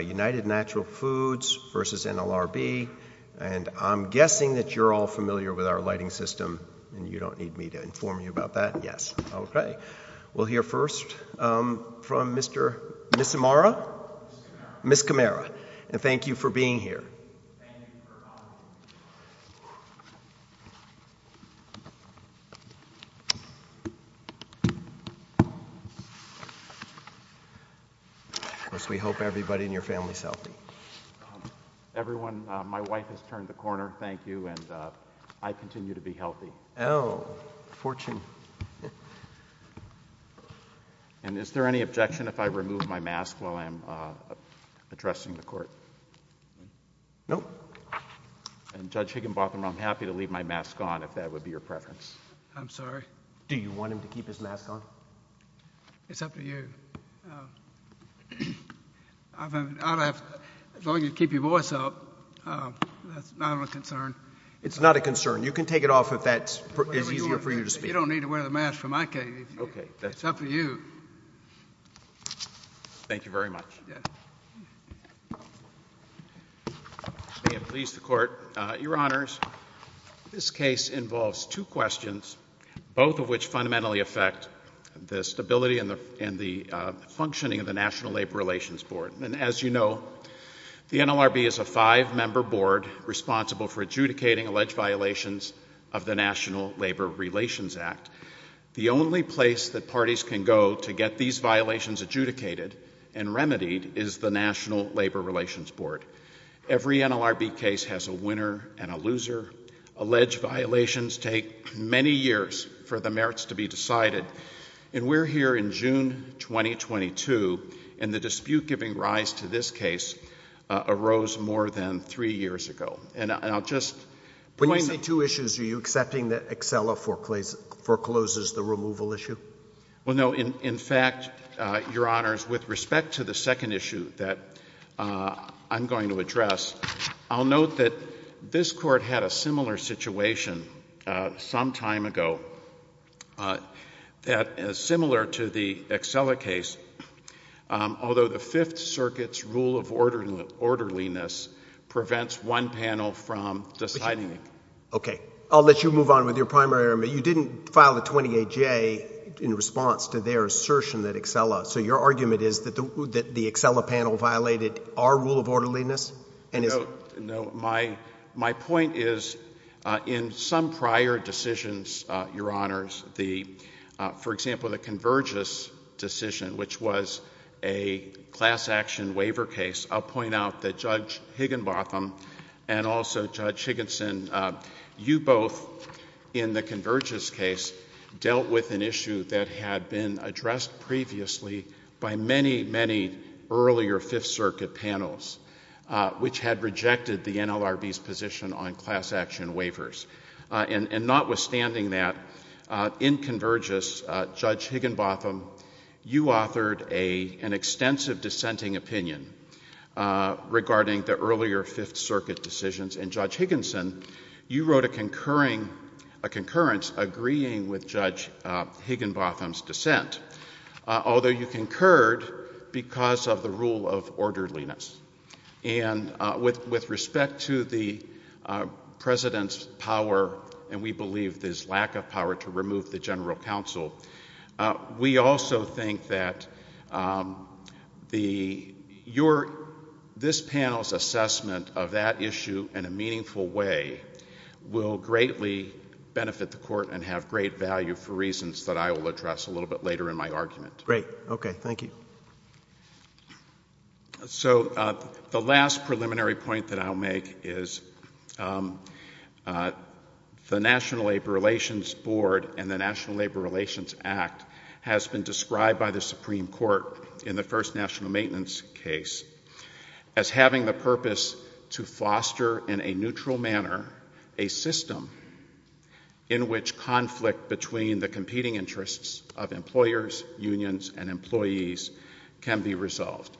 United Natural Foods v. NLRB, and I'm guessing that you're all familiar with our lighting system and you don't need me to inform you about that, yes. Okay. We'll hear first from Mr. Misamara? Miskamera. Miskamera. And thank you for being here. Thank you for having me. We hope everybody in your family is healthy. Everyone, my wife has turned the corner, thank you, and I continue to be healthy. Oh, fortune. And is there any objection if I remove my mask while I'm addressing the court? No. And Judge Higginbotham, I'm happy to leave my mask on if that would be your preference. I'm sorry? Do you want him to keep his mask on? It's up to you. As long as you keep your voice up, that's not a concern. It's not a concern. You can take it off if that is easier for you to speak. You don't need to wear the mask from my case. It's up to you. Thank you very much. May it please the Court. Your Honors, this case involves two questions, both of which fundamentally affect the stability and the functioning of the National Labor Relations Board. And as you know, the NLRB is a five-member board responsible for adjudicating alleged violations of the National Labor Relations Act. The only place that parties can go to get these violations adjudicated and remedied is the National Labor Relations Board. Every NLRB case has a winner and a loser. Alleged violations take many years for the merits to be decided. And we're here in June 2022, and the dispute giving rise to this case arose more than three years ago. When you say two issues, are you accepting that Excella forecloses the removal issue? Well, no. In fact, Your Honors, with respect to the second issue that I'm going to address, I'll note that this Court had a similar situation some time ago, similar to the Excella case. Although the Fifth Circuit's rule of orderliness prevents one panel from deciding. Okay. I'll let you move on with your primary argument. You didn't file a 20-A-J in response to their assertion that Excella, so your argument is that the Excella panel violated our rule of orderliness? No. My point is, in some prior decisions, Your Honors, for example, the Convergys decision, which was a class action waiver case, I'll point out that Judge Higginbotham and also Judge Higginson, you both, in the Convergys case, dealt with an issue that had been addressed previously by many, many earlier Fifth Circuit panels, which had rejected the NLRB's position on class action waivers. And notwithstanding that, in Convergys, Judge Higginbotham, you authored an extensive dissenting opinion regarding the earlier Fifth Circuit decisions, and Judge Higginson, you wrote a concurrence agreeing with Judge Higginbotham's dissent, although you concurred because of the rule of orderliness. And with respect to the President's power, and we believe his lack of power to remove the General Counsel, we also think that this panel's assessment of that issue in a meaningful way will greatly benefit the Court and have great value for reasons that I will address a little bit later in my argument. Great. Okay. Thank you. So the last preliminary point that I'll make is the National Labor Relations Board and the National Labor Relations Act has been described by the Supreme Court in the first national maintenance case as having the purpose to foster in a neutral manner a system in which conflict between the competing interests of employers, unions, and employees can be resolved.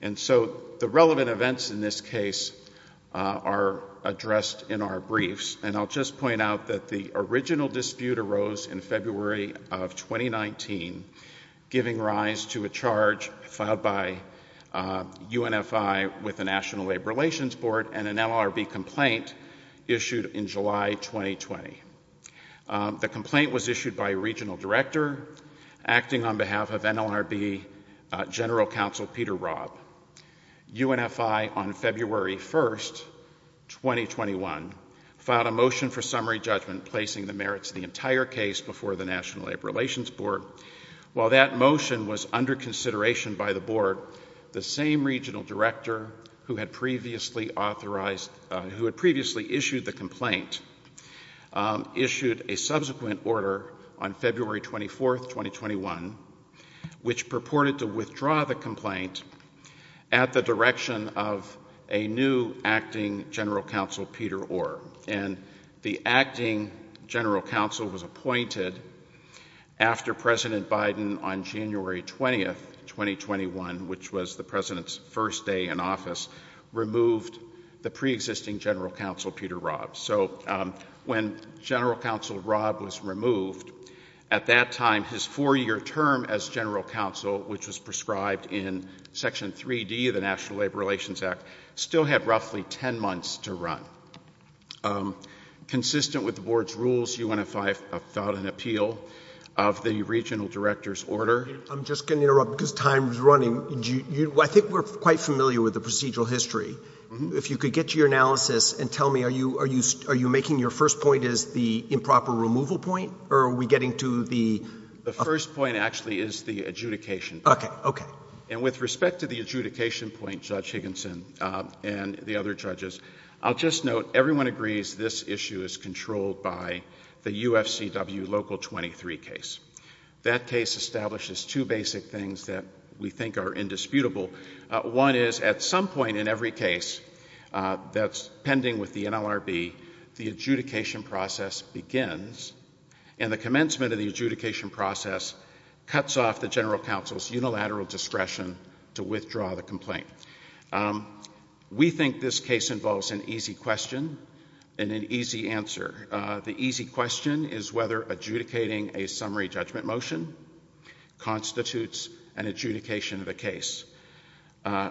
And so the relevant events in this case are addressed in our briefs, and I'll just point out that the original dispute arose in February of 2019, giving rise to a charge filed by UNFI with the National Labor Relations Board and an NLRB complaint issued in July 2020. The complaint was issued by a regional director acting on behalf of NLRB General Counsel Peter Robb. UNFI, on February 1, 2021, filed a motion for summary judgment placing the merits of the entire case before the National Labor Relations Board. While that motion was under consideration by the Board, the same regional director who had previously issued the complaint issued a subsequent order on February 24, 2021, which purported to withdraw the complaint at the direction of a new acting General Counsel Peter Orr. And the acting General Counsel was appointed after President Biden on January 20, 2021, which was the President's first day in office, removed the preexisting General Counsel Peter Robb. So when General Counsel Robb was removed, at that time his four-year term as General Counsel, which was prescribed in Section 3D of the National Labor Relations Act, still had roughly 10 months to run. Consistent with the Board's rules, UNFI filed an appeal of the regional director's order. I'm just going to interrupt because time is running. I think we're quite familiar with the procedural history. If you could get to your analysis and tell me, are you making your first point as the improper removal point, or are we getting to the— And with respect to the adjudication point, Judge Higginson, and the other judges, I'll just note everyone agrees this issue is controlled by the UFCW Local 23 case. That case establishes two basic things that we think are indisputable. One is at some point in every case that's pending with the NLRB, the adjudication process begins, and the commencement of the adjudication process cuts off the General Counsel's unilateral discretion to withdraw the complaint. We think this case involves an easy question and an easy answer. The easy question is whether adjudicating a summary judgment motion constitutes an adjudication of the case.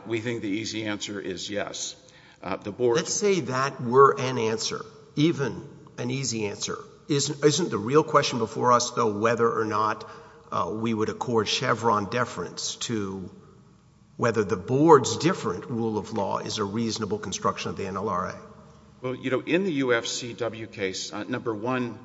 We think the easy answer is yes. Let's say that were an answer, even an easy answer. Isn't the real question before us, though, whether or not we would accord Chevron deference to whether the Board's different rule of law is a reasonable construction of the NLRA? Well, you know, in the UFCW case, number one,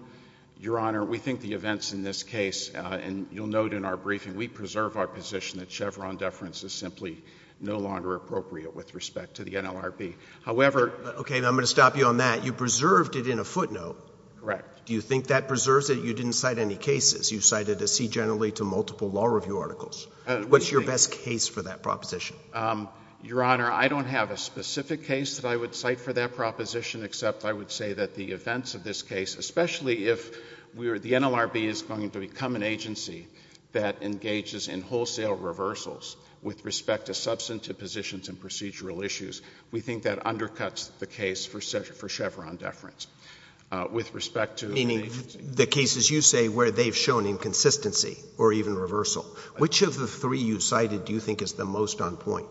Your Honor, we think the events in this case, and you'll note in our briefing, we preserve our position that Chevron deference is simply no longer appropriate with respect to the NLRB. However— Okay. I'm going to stop you on that. You preserved it in a footnote. Correct. Do you think that preserves it? You didn't cite any cases. You cited a C generally to multiple law review articles. What's your best case for that proposition? Your Honor, I don't have a specific case that I would cite for that proposition, except I would say that the events of this case, especially if the NLRB is going to become an agency that engages in wholesale reversals with respect to substantive positions and procedural issues, we think that undercuts the case for Chevron deference. Meaning the cases you say where they've shown inconsistency or even reversal. Which of the three you cited do you think is the most on point?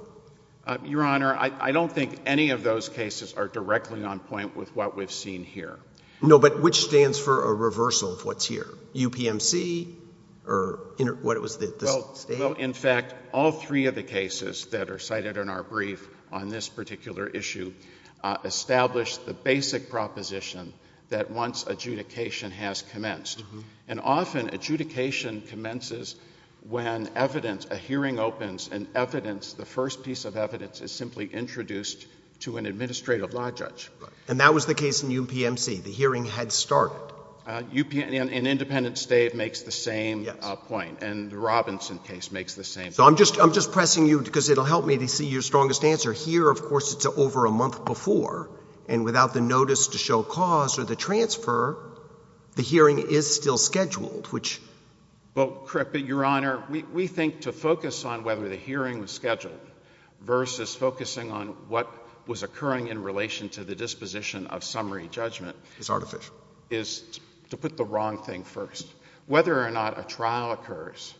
Your Honor, I don't think any of those cases are directly on point with what we've seen here. No, but which stands for a reversal of what's here? UPMC or what was the state? Well, in fact, all three of the cases that are cited in our brief on this particular issue establish the basic proposition that once adjudication has commenced. And often adjudication commences when evidence, a hearing opens and evidence, the first piece of evidence is simply introduced to an administrative law judge. And that was the case in UPMC. The hearing had started. In Independence State, it makes the same point. And the Robinson case makes the same point. So I'm just pressing you because it will help me to see your strongest answer. Here, of course, it's over a month before. And without the notice to show cause or the transfer, the hearing is still scheduled. But, Your Honor, we think to focus on whether the hearing was scheduled versus focusing on what was occurring in relation to the disposition of summary judgment is to put the wrong thing first. Whether or not a trial occurs,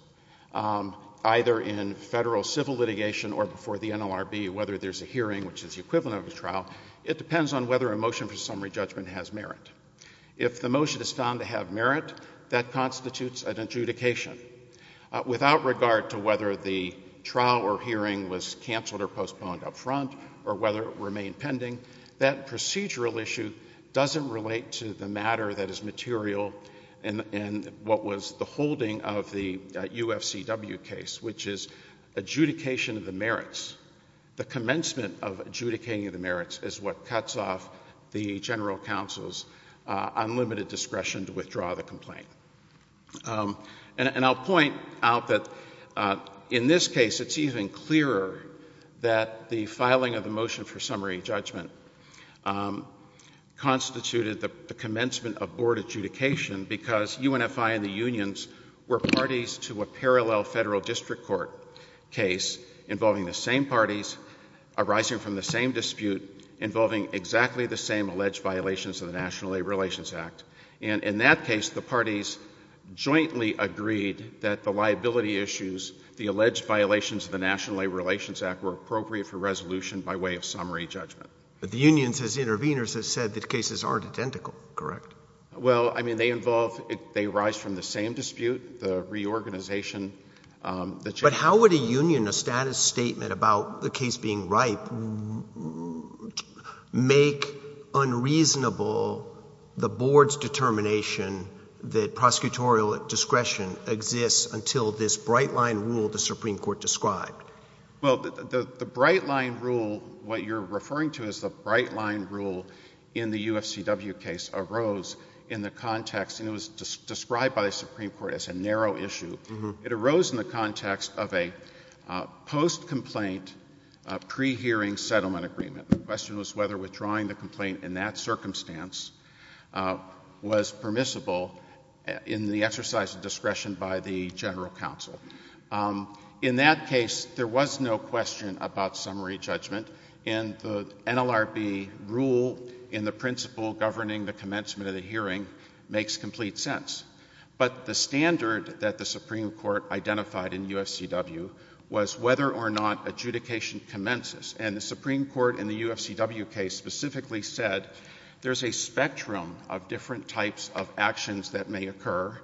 either in federal civil litigation or before the NLRB, whether there's a hearing, which is the equivalent of a trial, it depends on whether a motion for summary judgment has merit. If the motion is found to have merit, that constitutes an adjudication. Without regard to whether the trial or hearing was canceled or postponed up front or whether it remained pending, that procedural issue doesn't relate to the matter that is material in what was the holding of the UFCW case, which is adjudication of the merits. The commencement of adjudicating the merits is what cuts off the general counsel's unlimited discretion to withdraw the complaint. And I'll point out that in this case, it's even clearer that the filing of the motion for summary judgment constituted the commencement of board adjudication because UNFI and the unions were parties to a parallel federal district court case involving the same parties arising from the same dispute involving exactly the same alleged violations of the National Labor Relations Act. And in that case, the parties jointly agreed that the liability issues, the alleged violations of the National Labor Relations Act, were appropriate for resolution by way of summary judgment. But the unions as interveners have said that cases aren't identical, correct? Well, I mean they involve – they arise from the same dispute, the reorganization. But how would a union, a status statement about the case being ripe, make unreasonable the board's determination that prosecutorial discretion exists until this bright-line rule the Supreme Court described? Well, the bright-line rule, what you're referring to as the bright-line rule in the UFCW case arose in the context – and it was described by the Supreme Court as a narrow issue. It arose in the context of a post-complaint pre-hearing settlement agreement. The question was whether withdrawing the complaint in that circumstance was permissible in the exercise of discretion by the general counsel. In that case, there was no question about summary judgment, and the NLRB rule in the principle governing the commencement of the hearing makes complete sense. But the standard that the Supreme Court identified in UFCW was whether or not adjudication commences. And the Supreme Court in the UFCW case specifically said there's a spectrum of different types of actions that may occur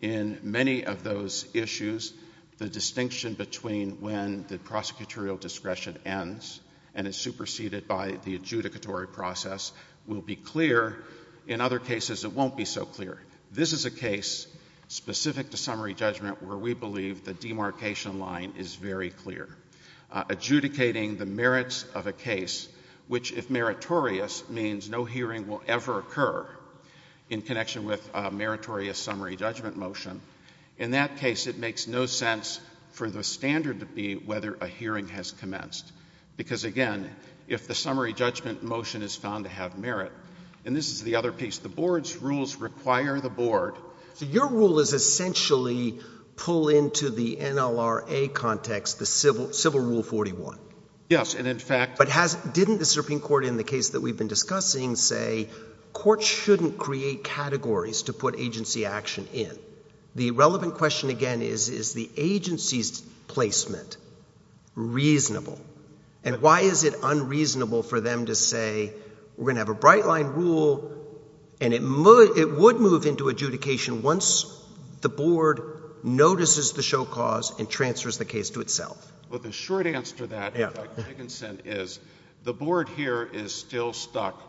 in many of those issues. The distinction between when the prosecutorial discretion ends and is superseded by the adjudicatory process will be clear. In other cases, it won't be so clear. This is a case specific to summary judgment where we believe the demarcation line is very clear. Adjudicating the merits of a case which, if meritorious, means no hearing will ever occur in connection with a meritorious summary judgment motion. In that case, it makes no sense for the standard to be whether a hearing has commenced. Because, again, if the summary judgment motion is found to have merit – and this is the other piece. So your rule is essentially pull into the NLRA context the civil rule 41. Yes, and in fact – But didn't the Supreme Court in the case that we've been discussing say courts shouldn't create categories to put agency action in? The relevant question again is, is the agency's placement reasonable? And why is it unreasonable for them to say we're going to have a bright line rule and it would move into adjudication once the board notices the show cause and transfers the case to itself? Well, the short answer to that, Dr. Dickinson, is the board here is still stuck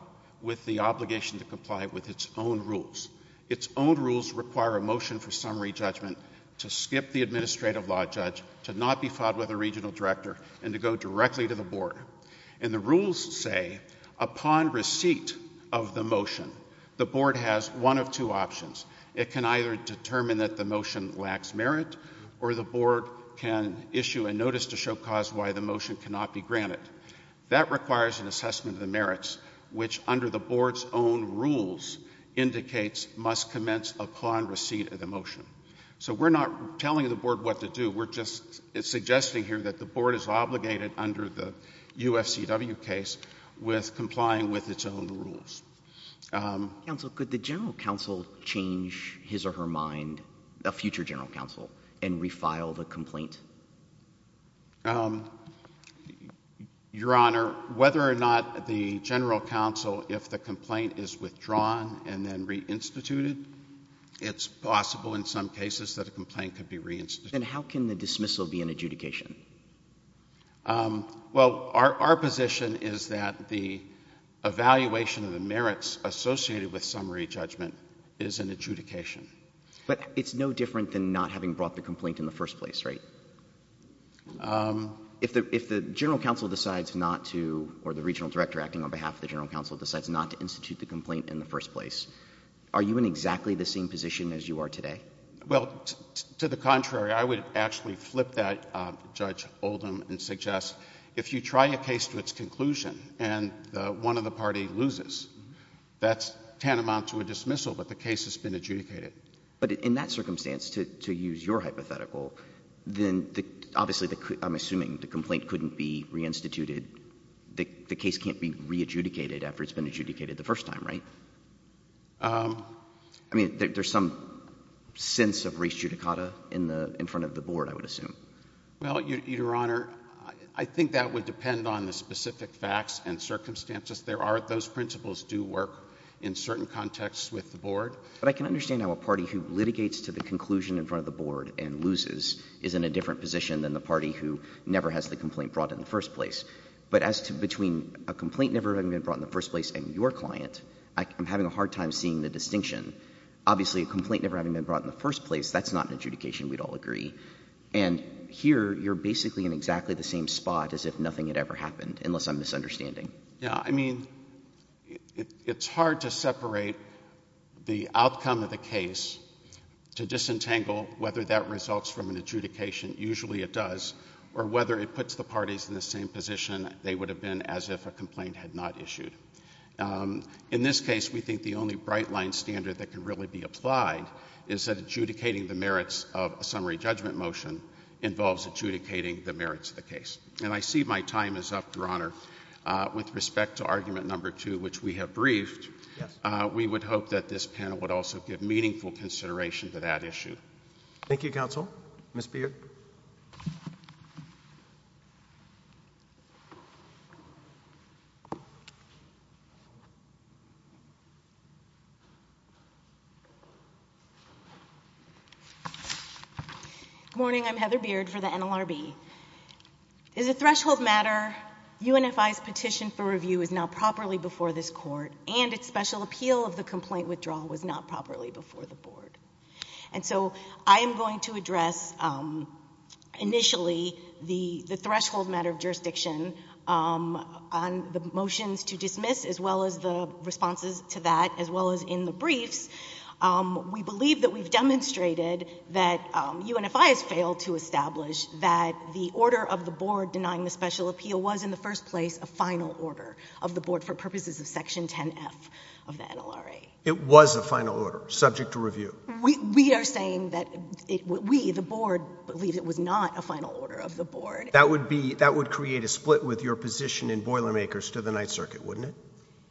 with the obligation to comply with its own rules. Its own rules require a motion for summary judgment to skip the administrative law judge, to not be filed with a regional director, and to go directly to the board. And the rules say upon receipt of the motion, the board has one of two options. It can either determine that the motion lacks merit or the board can issue a notice to show cause why the motion cannot be granted. That requires an assessment of the merits, which under the board's own rules indicates must commence upon receipt of the motion. So we're not telling the board what to do. We're just suggesting here that the board is obligated under the UFCW case with complying with its own rules. Counsel, could the general counsel change his or her mind, a future general counsel, and refile the complaint? Your Honor, whether or not the general counsel, if the complaint is withdrawn and then reinstituted, it's possible in some cases that a complaint could be reinstituted. Then how can the dismissal be an adjudication? Well, our position is that the evaluation of the merits associated with summary judgment is an adjudication. But it's no different than not having brought the complaint in the first place, right? If the general counsel decides not to, or the regional director acting on behalf of the general counsel, decides not to institute the complaint in the first place, are you in exactly the same position as you are today? Well, to the contrary, I would actually flip that, Judge Oldham, and suggest if you try a case to its conclusion and one of the party loses, that's tantamount to a dismissal, but the case has been adjudicated. But in that circumstance, to use your hypothetical, then obviously I'm assuming the complaint couldn't be reinstituted. The case can't be re-adjudicated after it's been adjudicated the first time, right? I mean, there's some sense of res judicata in front of the Board, I would assume. Well, Your Honor, I think that would depend on the specific facts and circumstances. Those principles do work in certain contexts with the Board. But I can understand how a party who litigates to the conclusion in front of the Board and loses is in a different position than the party who never has the complaint brought in the first place. But as to between a complaint never having been brought in the first place and your client, I'm having a hard time seeing the distinction. Obviously, a complaint never having been brought in the first place, that's not an adjudication, we'd all agree. And here, you're basically in exactly the same spot as if nothing had ever happened, unless I'm misunderstanding. Yeah, I mean, it's hard to separate the outcome of the case to disentangle whether that results from an adjudication, usually it does, or whether it puts the parties in the same position they would have been as if a complaint had not issued. In this case, we think the only bright-line standard that can really be applied is that adjudicating the merits of a summary judgment motion involves adjudicating the merits of the case. And I see my time is up, Your Honor. With respect to Argument No. 2, which we have briefed, we would hope that this panel would also give meaningful consideration to that issue. Thank you, Counsel. Ms. Beard? Good morning. I'm Heather Beard for the NLRB. As a threshold matter, UNFI's petition for review is not properly before this Court, and its special appeal of the complaint withdrawal was not properly before the Board. And so I am going to address initially the threshold matter of jurisdiction on the motions to dismiss, as well as the responses to that, as well as in the briefs. We believe that we've demonstrated that UNFI has failed to establish that the order of the Board denying the special appeal was in the first place a final order of the Board for purposes of Section 10F of the NLRA. It was a final order, subject to review? We are saying that we, the Board, believe it was not a final order of the Board. That would create a split with your position in Boilermakers to the Ninth Circuit, wouldn't it?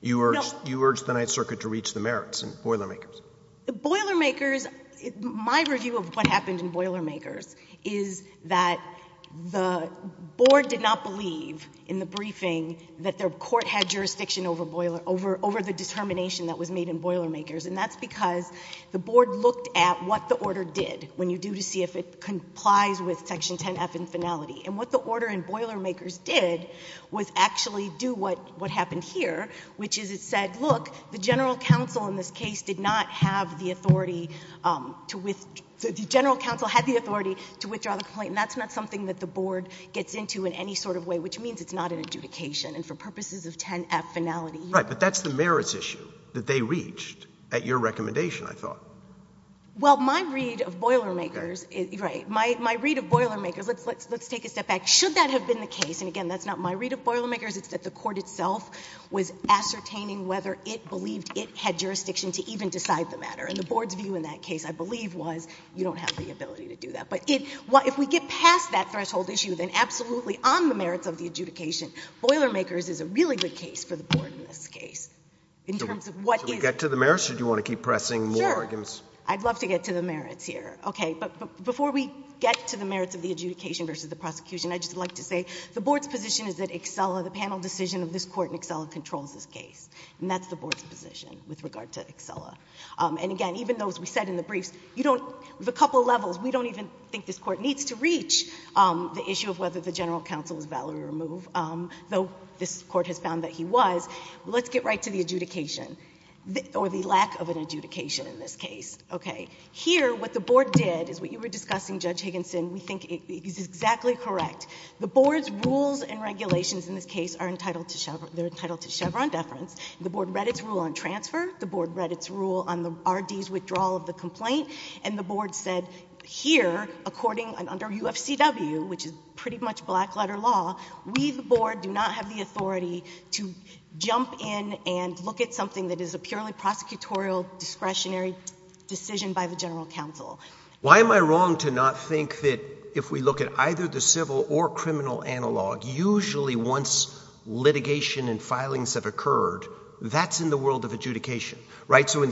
You urged the Ninth Circuit to reach the merits in Boilermakers. The Boilermakers, my review of what happened in Boilermakers is that the Board did not believe in the briefing that the Court had jurisdiction over the determination that was made in Boilermakers. And that's because the Board looked at what the order did, when you do to see if it complies with Section 10F in finality. And what the order in Boilermakers did was actually do what happened here, which is it said, look, the general counsel in this case did not have the authority to withdraw the complaint. And that's not something that the Board gets into in any sort of way, which means it's not an adjudication, and for purposes of 10F finality. Right. But that's the merits issue that they reached at your recommendation, I thought. Well, my read of Boilermakers, right, my read of Boilermakers, let's take a step back. Should that have been the case? And again, that's not my read of Boilermakers. It's that the Court itself was ascertaining whether it believed it had jurisdiction to even decide the matter. And the Board's view in that case, I believe, was you don't have the ability to do that. But if we get past that threshold issue, then absolutely on the merits of the adjudication, Boilermakers is a really good case for the Board in this case in terms of what is— Do you want to get to the merits, or do you want to keep pressing more arguments? Sure. I'd love to get to the merits here. Okay. But before we get to the merits of the adjudication versus the prosecution, I'd just like to say the Board's position is that Excella, the panel decision of this Court in Excella, controls this case. And that's the Board's position with regard to Excella. And again, even though, as we said in the briefs, you don't—with a couple of levels, we don't even think this Court needs to reach the issue of whether the general counsel is valid or removed, though this Court has found that he was. Let's get right to the adjudication, or the lack of an adjudication in this case. Okay. Here, what the Board did is what you were discussing, Judge Higginson, we think is exactly correct. The Board's rules and regulations in this case are entitled to Chevron deference. The Board read its rule on transfer. The Board read its rule on the R.D.'s withdrawal of the complaint. And the Board said here, according—and under U.F.C.W., which is pretty much black-letter law, we, the Board, do not have the authority to jump in and look at something that is a purely prosecutorial discretionary decision by the general counsel. Why am I wrong to not think that if we look at either the civil or criminal analog, usually once litigation and filings have occurred, that's in the world of adjudication, right? So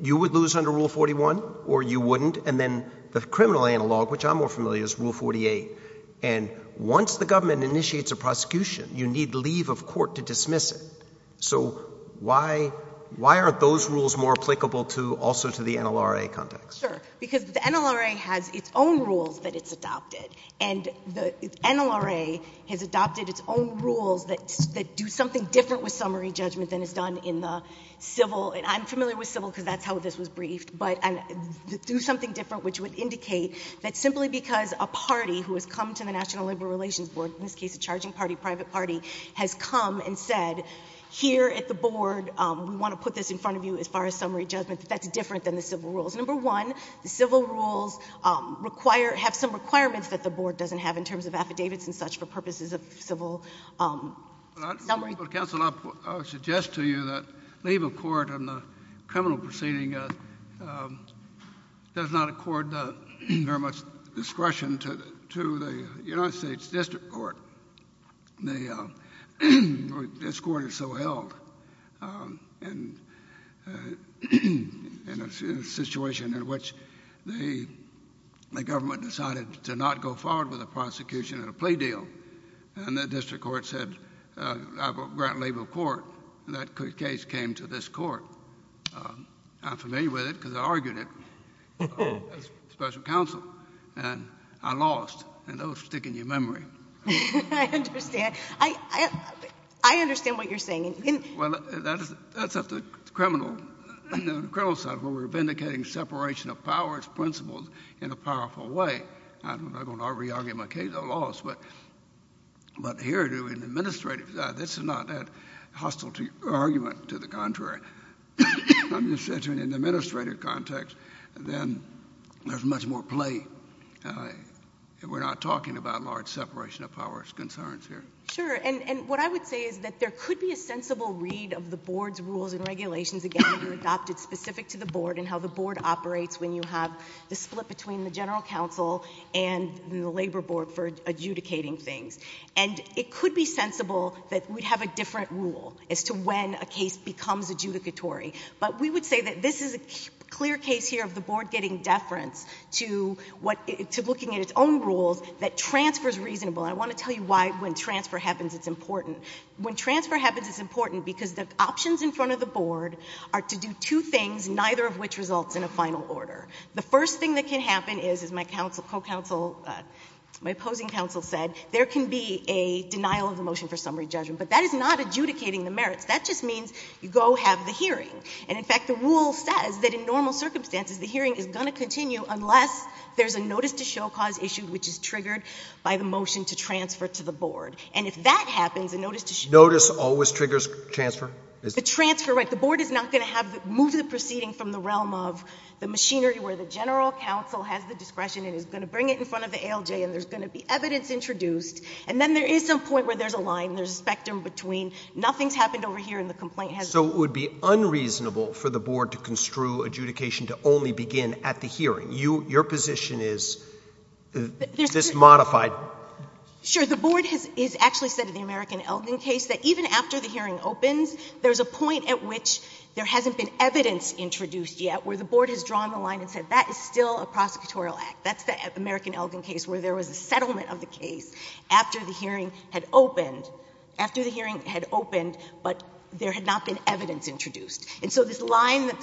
you would lose under Rule 41, or you wouldn't. And then the criminal analog, which I'm more familiar with, is Rule 48. And once the government initiates a prosecution, you need leave of court to dismiss it. So why aren't those rules more applicable also to the NLRA context? Sure, because the NLRA has its own rules that it's adopted. And the NLRA has adopted its own rules that do something different with summary judgment than is done in the civil. And I'm familiar with civil because that's how this was briefed. But do something different, which would indicate that simply because a party who has come to the National Labor Relations Board, in this case a charging party, private party, has come and said, here at the Board, we want to put this in front of you as far as summary judgment, that that's different than the civil rules. Number one, the civil rules require — have some requirements that the Board doesn't have in terms of affidavits and such for purposes of civil summary. Counsel, I would suggest to you that leave of court in the criminal proceeding does not accord very much discretion to the United States District Court. This court is so held in a situation in which the government decided to not go forward with a prosecution and a plea deal. And the district court said, I will grant leave of court. And that case came to this court. I'm familiar with it because I argued it on special counsel. And I lost. And those stick in your memory. I understand. I understand what you're saying. Well, that's up to the criminal side where we're vindicating separation of powers principles in a powerful way. I'm not going to re-argue my case. I lost. But here in the administrative side, this is not that hostile argument to the contrary. I'm just saying in an administrative context, then there's much more play. We're not talking about large separation of powers concerns here. Sure. And what I would say is that there could be a sensible read of the Board's rules and regulations, again, specific to the Board and how the Board operates when you have the split between the general counsel and the labor board for adjudicating things. And it could be sensible that we'd have a different rule as to when a case becomes adjudicatory. But we would say that this is a clear case here of the Board getting deference to looking at its own rules, that transfer's reasonable. And I want to tell you why when transfer happens it's important. When transfer happens it's important because the options in front of the Board are to do two things, neither of which results in a final order. The first thing that can happen is, as my opposing counsel said, there can be a denial of the motion for summary judgment. But that is not adjudicating the merits. That just means you go have the hearing. And, in fact, the rule says that in normal circumstances the hearing is going to continue unless there's a notice to show cause issued, which is triggered by the motion to transfer to the Board. And if that happens, a notice to show— Notice always triggers transfer? The transfer, right. The Board is not going to have to move the proceeding from the realm of the machinery where the general counsel has the discretion and is going to bring it in front of the ALJ and there's going to be evidence introduced. And then there is some point where there's a line, there's a spectrum between nothing's happened over here and the complaint has— So it would be unreasonable for the Board to construe adjudication to only begin at the hearing. Your position is this modified— Sure. The Board has actually said in the American Elgin case that even after the hearing opens, there's a point at which there hasn't been evidence introduced yet where the Board has drawn the line and said that is still a prosecutorial act. That's the American Elgin case where there was a settlement of the case after the hearing had opened, after the hearing had opened, but there had not been evidence introduced. And so this line that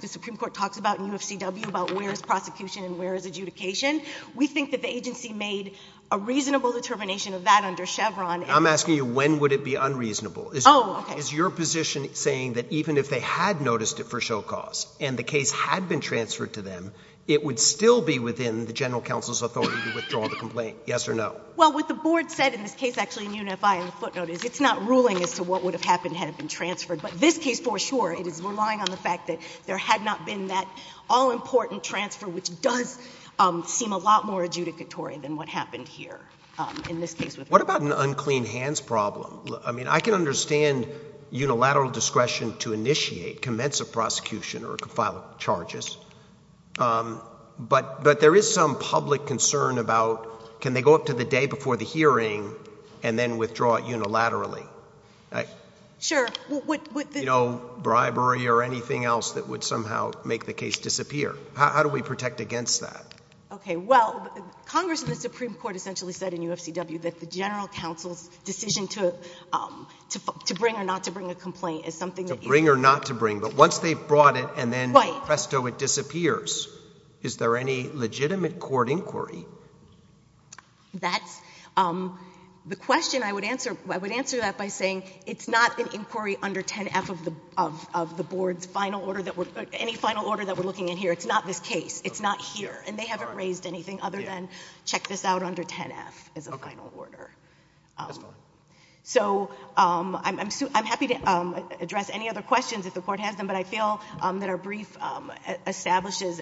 the Supreme Court talks about in UFCW about where is prosecution and where is adjudication, we think that the agency made a reasonable determination of that under Chevron and— I'm asking you when would it be unreasonable. Oh, okay. Is your position saying that even if they had noticed it for show cause and the case had been transferred to them, it would still be within the general counsel's authority to withdraw the complaint? Yes or no? Well, what the Board said in this case actually in UNFI in the footnote is it's not ruling as to what would have happened had it been transferred. But this case for sure, it is relying on the fact that there had not been that all-important transfer, which does seem a lot more adjudicatory than what happened here in this case. What about an unclean hands problem? I mean, I can understand unilateral discretion to initiate, commence a prosecution or file charges, but there is some public concern about can they go up to the day before the hearing and then withdraw it unilaterally? Sure. You know, bribery or anything else that would somehow make the case disappear. How do we protect against that? Okay. Well, Congress in the Supreme Court essentially said in UFCW that the general counsel's decision to bring or not to bring a complaint is something that is... To bring or not to bring. But once they've brought it and then, presto, it disappears. Right. Is there any legitimate court inquiry? That's the question I would answer. I would answer that by saying it's not an inquiry under 10F of the Board's final order that we're, any final order that we're looking at here. It's not this case. It's not here. And they haven't raised anything other than check this out under 10F as a final order. So I'm happy to address any other questions if the Court has them, but I feel that our brief establishes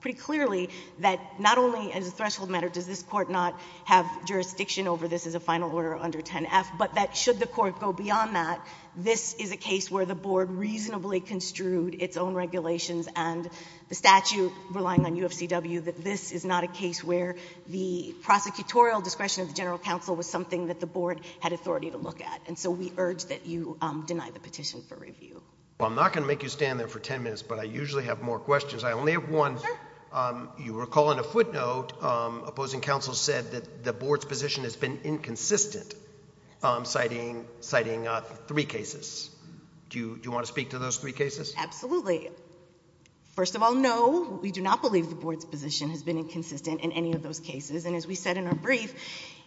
pretty clearly that not only as a threshold matter does this Court not have jurisdiction over this as a final order under 10F, but that should the Court go beyond that. This is a case where the Board reasonably construed its own regulations and the statute relying on UFCW that this is not a case where the prosecutorial discretion of the general counsel was something that the Board had authority to look at. And so we urge that you deny the petition for review. Well, I'm not going to make you stand there for 10 minutes, but I usually have more questions. I only have one. Sure. You recall in a footnote opposing counsel said that the Board's position has been inconsistent, citing three cases. Do you want to speak to those three cases? Absolutely. First of all, no, we do not believe the Board's position has been inconsistent in any of those cases. And as we said in our brief,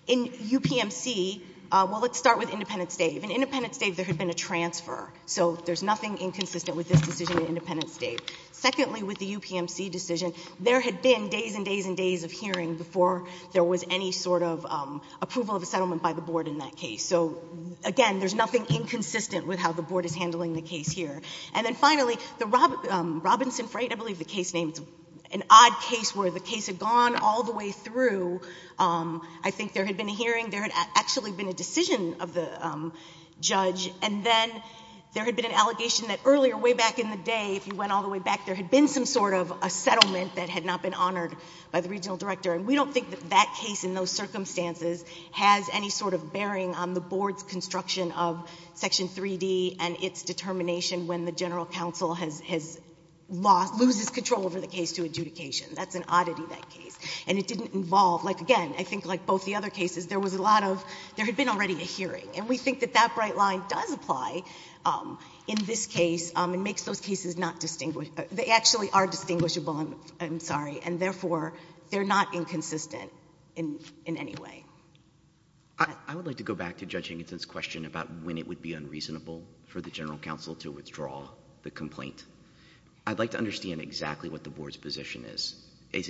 in UPMC, well, let's start with Independence Day. In Independence Day, there had been a transfer, so there's nothing inconsistent with this decision in Independence Day. Secondly, with the UPMC decision, there had been days and days and days of hearing before there was any sort of approval of a settlement by the Board in that case. So again, there's nothing inconsistent with how the Board is handling the case here. And then finally, the Robinson Freight, I believe the case name, it's an odd case where the case had gone all the way through. I think there had been a hearing, there had actually been a decision of the judge, and then there had been an allegation that earlier, way back in the day, if you went all the way back, there had been some sort of a settlement that had not been honored by the regional director. And we don't think that that case in those circumstances has any sort of bearing on the Board's construction of Section 3D and its determination when the General Counsel has lost, loses control over the case to adjudication. That's an oddity, that case. And it didn't involve, like again, I think like both the other cases, there was a lot of, there had been already a hearing. And we think that that bright line does apply in this case and makes those cases not distinguishable. They actually are distinguishable, I'm sorry. And therefore, they're not inconsistent in any way. I would like to go back to Judge Hankinson's question about when it would be unreasonable for the General Counsel to withdraw the complaint. I'd like to understand exactly what the Board's position is. Is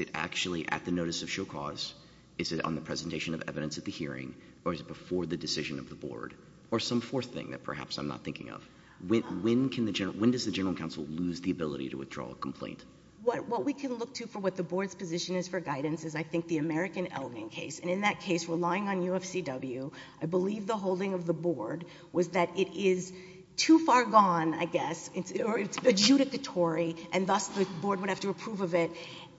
it actually at the notice of show cause? Is it on the presentation of evidence at the hearing? Or is it before the decision of the Board? Or some fourth thing that perhaps I'm not thinking of. When does the General Counsel lose the ability to withdraw a complaint? What we can look to for what the Board's position is for guidance is, I think, the American Elgin case. And in that case, relying on UFCW, I believe the holding of the Board was that it is too far gone, I guess, or it's adjudicatory, and thus the Board would have to approve of it.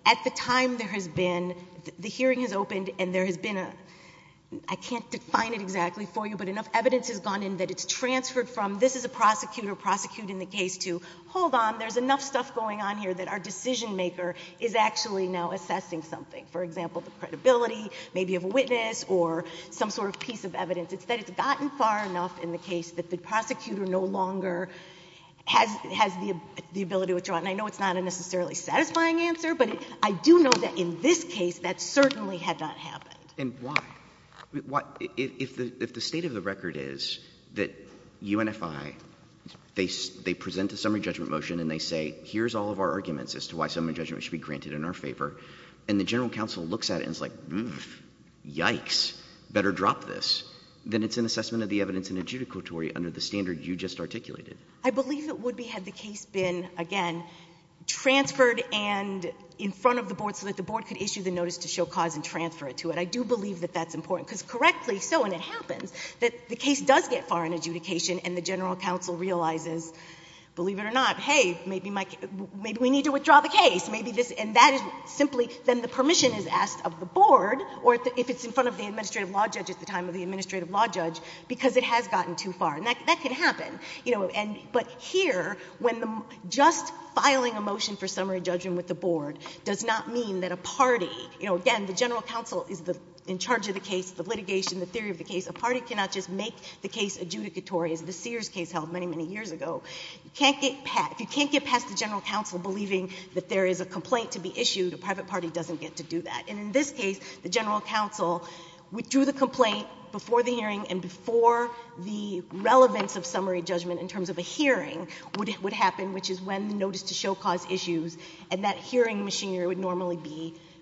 At the time there has been, the hearing has opened and there has been a, I can't define it exactly for you, but enough evidence has gone in that it's transferred from, this is a prosecutor prosecuting the case to, hold on, there's enough stuff going on here that our decision maker is actually now assessing something. For example, the credibility maybe of a witness or some sort of piece of evidence. It's that it's gotten far enough in the case that the prosecutor no longer has the ability to withdraw. And I know it's not a necessarily satisfying answer, but I do know that in this case that certainly had not happened. And why? If the state of the record is that UNFI, they present a summary judgment motion and they say, here's all of our arguments as to why summary judgment should be granted in our favor, and the General Counsel looks at it and is like, yikes, better drop this, then it's an assessment of the evidence and adjudicatory under the standard you just articulated. I believe it would be had the case been, again, transferred and in front of the Board so that the Board could issue the notice to show cause and transfer it to it. And I do believe that that's important. Because correctly so, and it happens, that the case does get far in adjudication and the General Counsel realizes, believe it or not, hey, maybe we need to withdraw the case. And that is simply, then the permission is asked of the Board, or if it's in front of the Administrative Law Judge at the time of the Administrative Law Judge, because it has gotten too far. And that can happen. But here, when just filing a motion for summary judgment with the Board does not mean that a party, you know, again, the General Counsel is in charge of the case, the litigation, the theory of the case. A party cannot just make the case adjudicatory as the Sears case held many, many years ago. You can't get past the General Counsel believing that there is a complaint to be issued. A private party doesn't get to do that. And in this case, the General Counsel withdrew the complaint before the hearing and before the relevance of summary judgment in terms of a hearing would happen, which is when the issues, and that hearing machinery would normally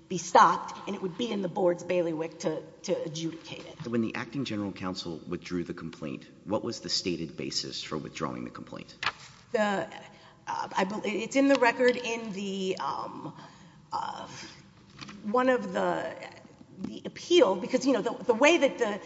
be stopped, and it would be in the Board's bailiwick to adjudicate it. When the Acting General Counsel withdrew the complaint, what was the stated basis for withdrawing the complaint? The, I believe, it's in the record in the, one of the, the appeal, because, you know, the way that the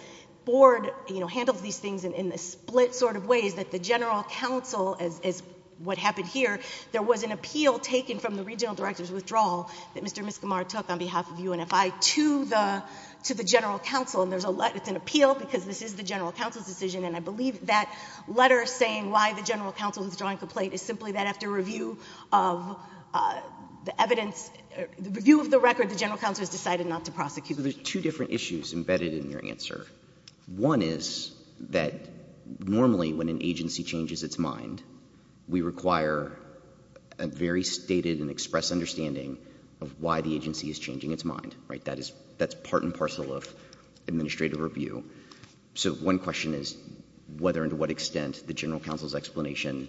Board, you know, handles these things in a split sort of way is that the General Counsel, as, as what happened here, there was an appeal taken from the Regional Director's withdrawal that Mr. Miskimar took on behalf of UNFI to the, to the General Counsel. And there's a, it's an appeal because this is the General Counsel's decision. And I believe that letter saying why the General Counsel withdrew the complaint is simply that after review of the evidence, review of the record, the General Counsel has decided not to prosecute. But there's two different issues embedded in your answer. One is that normally when an agency changes its mind, we require a very stated and express understanding of why the agency is changing its mind, right? That is, that's part and parcel of administrative review. So one question is whether and to what extent the General Counsel's explanation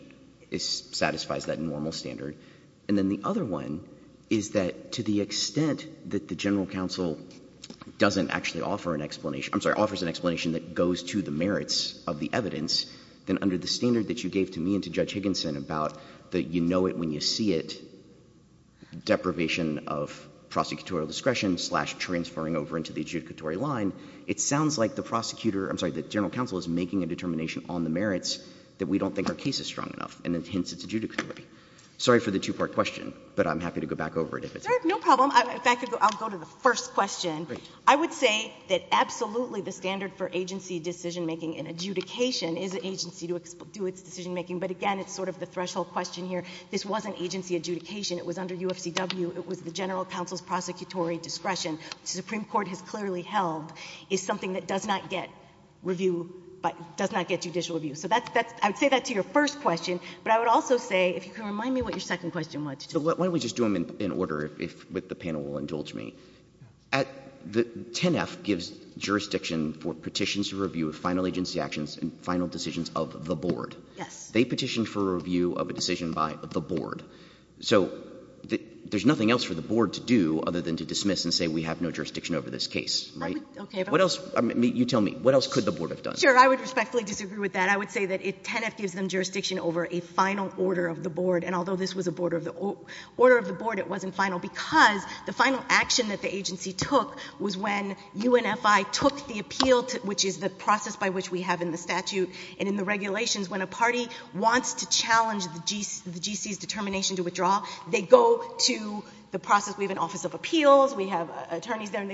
is, satisfies that normal standard. And then the other one is that to the extent that the General Counsel doesn't actually offer an explanation, I'm sorry, offers an explanation that goes to the merits of the evidence, then under the standard that you gave to me and to Judge Higginson about that you know it when you see it, deprivation of prosecutorial discretion slash transferring over into the adjudicatory line, it sounds like the prosecutor, I'm sorry, the General Counsel is making a determination on the merits that we don't think our case is strong enough and hence it's adjudicatory. Sorry for the two-part question, but I'm happy to go back over it if it's. No problem. In fact, I'll go to the first question. I would say that absolutely the standard for agency decision-making and adjudication is an agency to do its decision-making. But again, it's sort of the threshold question here. This wasn't agency adjudication. It was under UFCW. It was the General Counsel's prosecutorial discretion. The Supreme Court has clearly held it's something that does not get review, does not get judicial review. So I would say that to your first question, but I would also say, if you can remind me what your second question was. Why don't we just do them in order, if the panel will indulge me. 10F gives jurisdiction for petitions to review of final agency actions and final decisions of the board. Yes. They petition for review of a decision by the board. So there's nothing else for the board to do other than to dismiss and say we have no jurisdiction over this case, right? Okay. What else, you tell me, what else could the board have done? Sure. I would respectfully disagree with that. I would say that 10F gives them jurisdiction over a final order of the board. And although this was a order of the board, it wasn't final, because the final action that the agency took was when UNFI took the appeal, which is the process by which we have in the statute and in the regulations, when a party wants to challenge the GC's determination to withdraw, they go to the process. We have an Office of Appeals. We have attorneys there.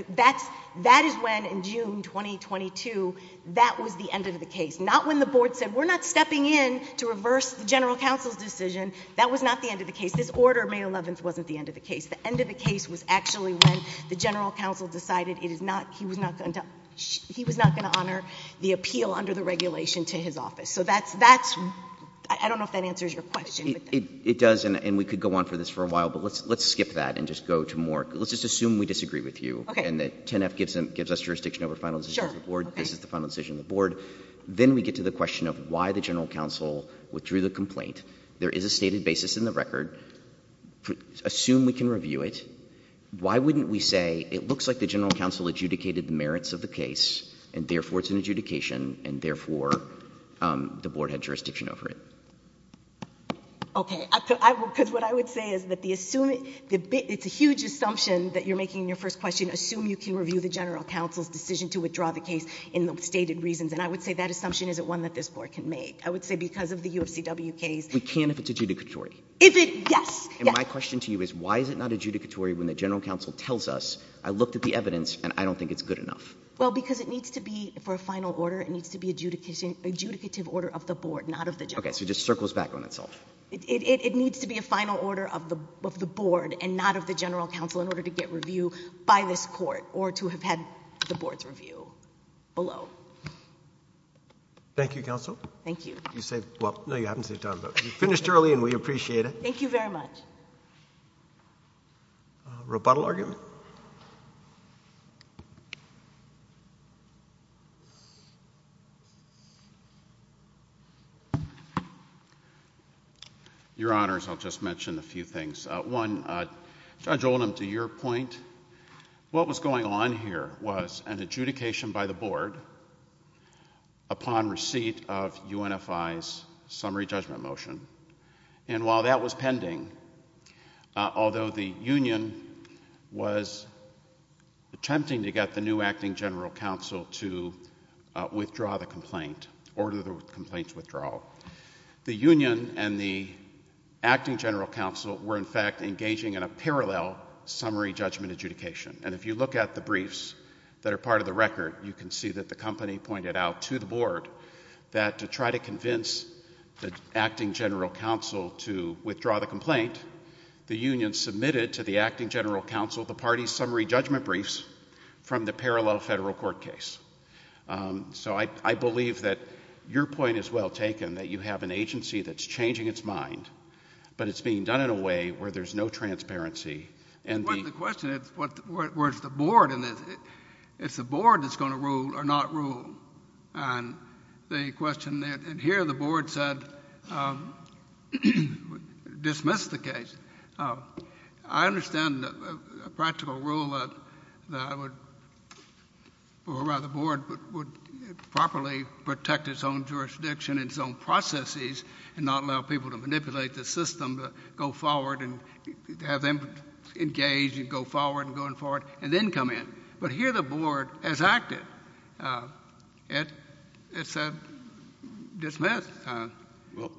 That is when, in June 2022, that was the end of the case. Not when the board said we're not stepping in to reverse the General Counsel's decision. That was not the end of the case. This order, May 11th, wasn't the end of the case. The end of the case was actually when the General Counsel decided it is not, he was not going to, he was not going to honor the appeal under the regulation to his office. So that's, that's, I don't know if that answers your question. It does, and we could go on for this for a while, but let's skip that and just go to more, let's just assume we disagree with you. And that 10F gives us jurisdiction over final decisions of the board. Sure. Okay. This is the final decision of the board. Then we get to the question of why the General Counsel withdrew the complaint. There is a stated basis in the record. Assume we can review it. Why wouldn't we say it looks like the General Counsel adjudicated the merits of the case and therefore it's an adjudication and therefore the board had jurisdiction over it? Okay. Because what I would say is that the, it's a huge assumption that you're making in your first question. Assume you can review the General Counsel's decision to withdraw the case in the stated reasons. And I would say that assumption isn't one that this Court can make. I would say because of the UFCW case. We can if it's adjudicatory. If it, yes. And my question to you is why is it not adjudicatory when the General Counsel tells us, I looked at the evidence and I don't think it's good enough? Well, because it needs to be, for a final order, it needs to be adjudication, adjudicative order of the board, not of the General Counsel. Okay, so it just circles back on itself. It, it, it needs to be a final order of the, of the board and not of the General Counsel in order to get review by this Court or to have had the board's review below. Thank you, Counsel. Thank you. You saved, well, no, you haven't saved time, but you finished early and we appreciate it. Thank you very much. Rebuttal argument? Your Honors, I'll just mention a few things. One, Judge Oldham, to your point, what was going on here was an adjudication by the board upon receipt of UNFI's summary judgment motion. And while that was pending, although the union was attempting to get the new Acting General Counsel to withdraw the complaint, order the complaint's withdrawal, the union and the board were, in fact, engaging in a parallel summary judgment adjudication. And if you look at the briefs that are part of the record, you can see that the company pointed out to the board that to try to convince the Acting General Counsel to withdraw the complaint, the union submitted to the Acting General Counsel the party's summary judgment briefs from the parallel federal court case. So I, I believe that your point is well taken, that you have an agency that's changing its mind, but it's being done in a way where there's no transparency. But the question is, where's the board in this? It's the board that's going to rule or not rule. And the question that, and here the board said, dismissed the case. I understand a practical rule that would, or rather the board would properly protect its own jurisdiction and its own processes and not allow people to manipulate the system to go forward and have them engage and go forward and going forward and then come in. But here the board has acted. It, it said, dismissed. Well,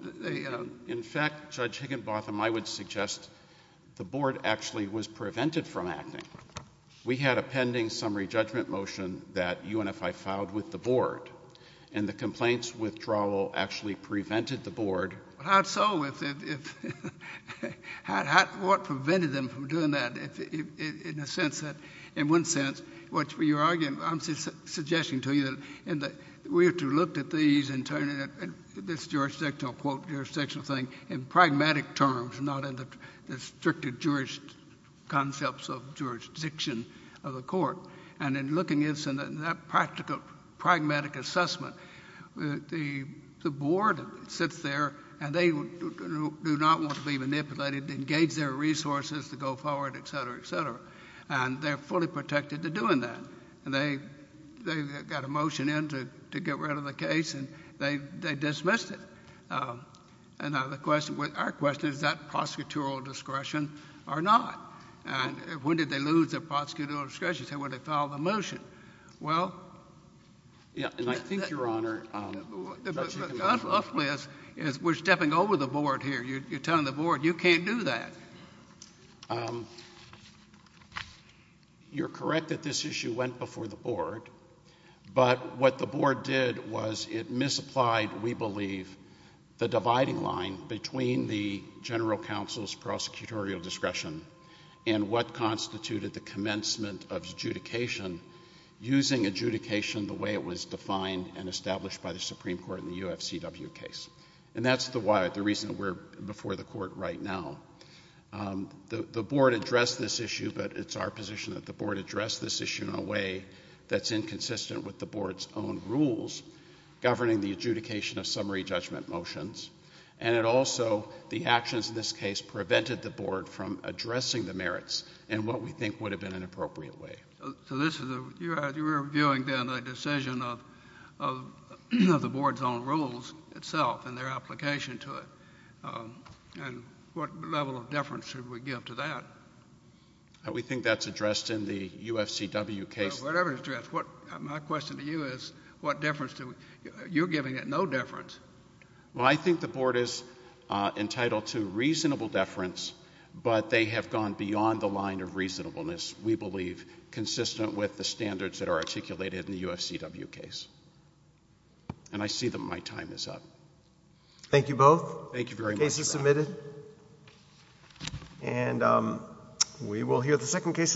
in fact, Judge Higginbotham, I would suggest the board actually was prevented from acting. We had a pending summary judgment motion that UNFI filed with the board. And the complaint's withdrawal actually prevented the board. How so? If, if, how, how, what prevented them from doing that? If, if, in a sense that, in one sense, what you're arguing, I'm suggesting to you that in the, we have to look at these and turn it, this jurisdictional quote, jurisdictional thing in pragmatic terms, not in the, the stricter jurist concepts of jurisdiction of the court. And in looking at some of that practical, pragmatic assessment, the, the board sits there and they do not want to be manipulated to engage their resources to go forward, et cetera, et cetera. And they're fully protected to doing that. And they, they got a motion in to, to get rid of the case and they, they dismissed it. And now the question, our question is, is that prosecutorial discretion or not? And when did they lose their prosecutorial discretion? Say, well, they filed the motion. Well. Yeah, and I think, Your Honor, Judge, you can go first. Unluckily, we're stepping over the board here. You're telling the board, you can't do that. You're correct that this issue went before the board. But what the board did was it misapplied, we believe, the dividing line between the general counsel's prosecutorial discretion and what constituted the commencement of adjudication using adjudication the way it was defined and established by the Supreme Court in the UFCW case. And that's the why, the reason we're before the court right now. The, the board addressed this issue, but it's our position that the board addressed this issue in a way that's inconsistent with the board's own rules governing the adjudication of summary judgment motions. And it also, the actions in this case prevented the board from addressing the merits in what we think would have been an appropriate way. So this is a, you're, you're viewing then a decision of, of the board's own rules itself and their application to it. And what level of deference should we give to that? We think that's addressed in the UFCW case. Whatever is addressed. What, my question to you is what deference do we, you're giving it no deference. Well, I think the board is entitled to reasonable deference, but they have gone beyond the line of reasonableness, we believe, consistent with the standards that are articulated in the UFCW case. And I see that my time is up. Thank you both. Thank you very much. The case is submitted. And we will hear the second case in a minute.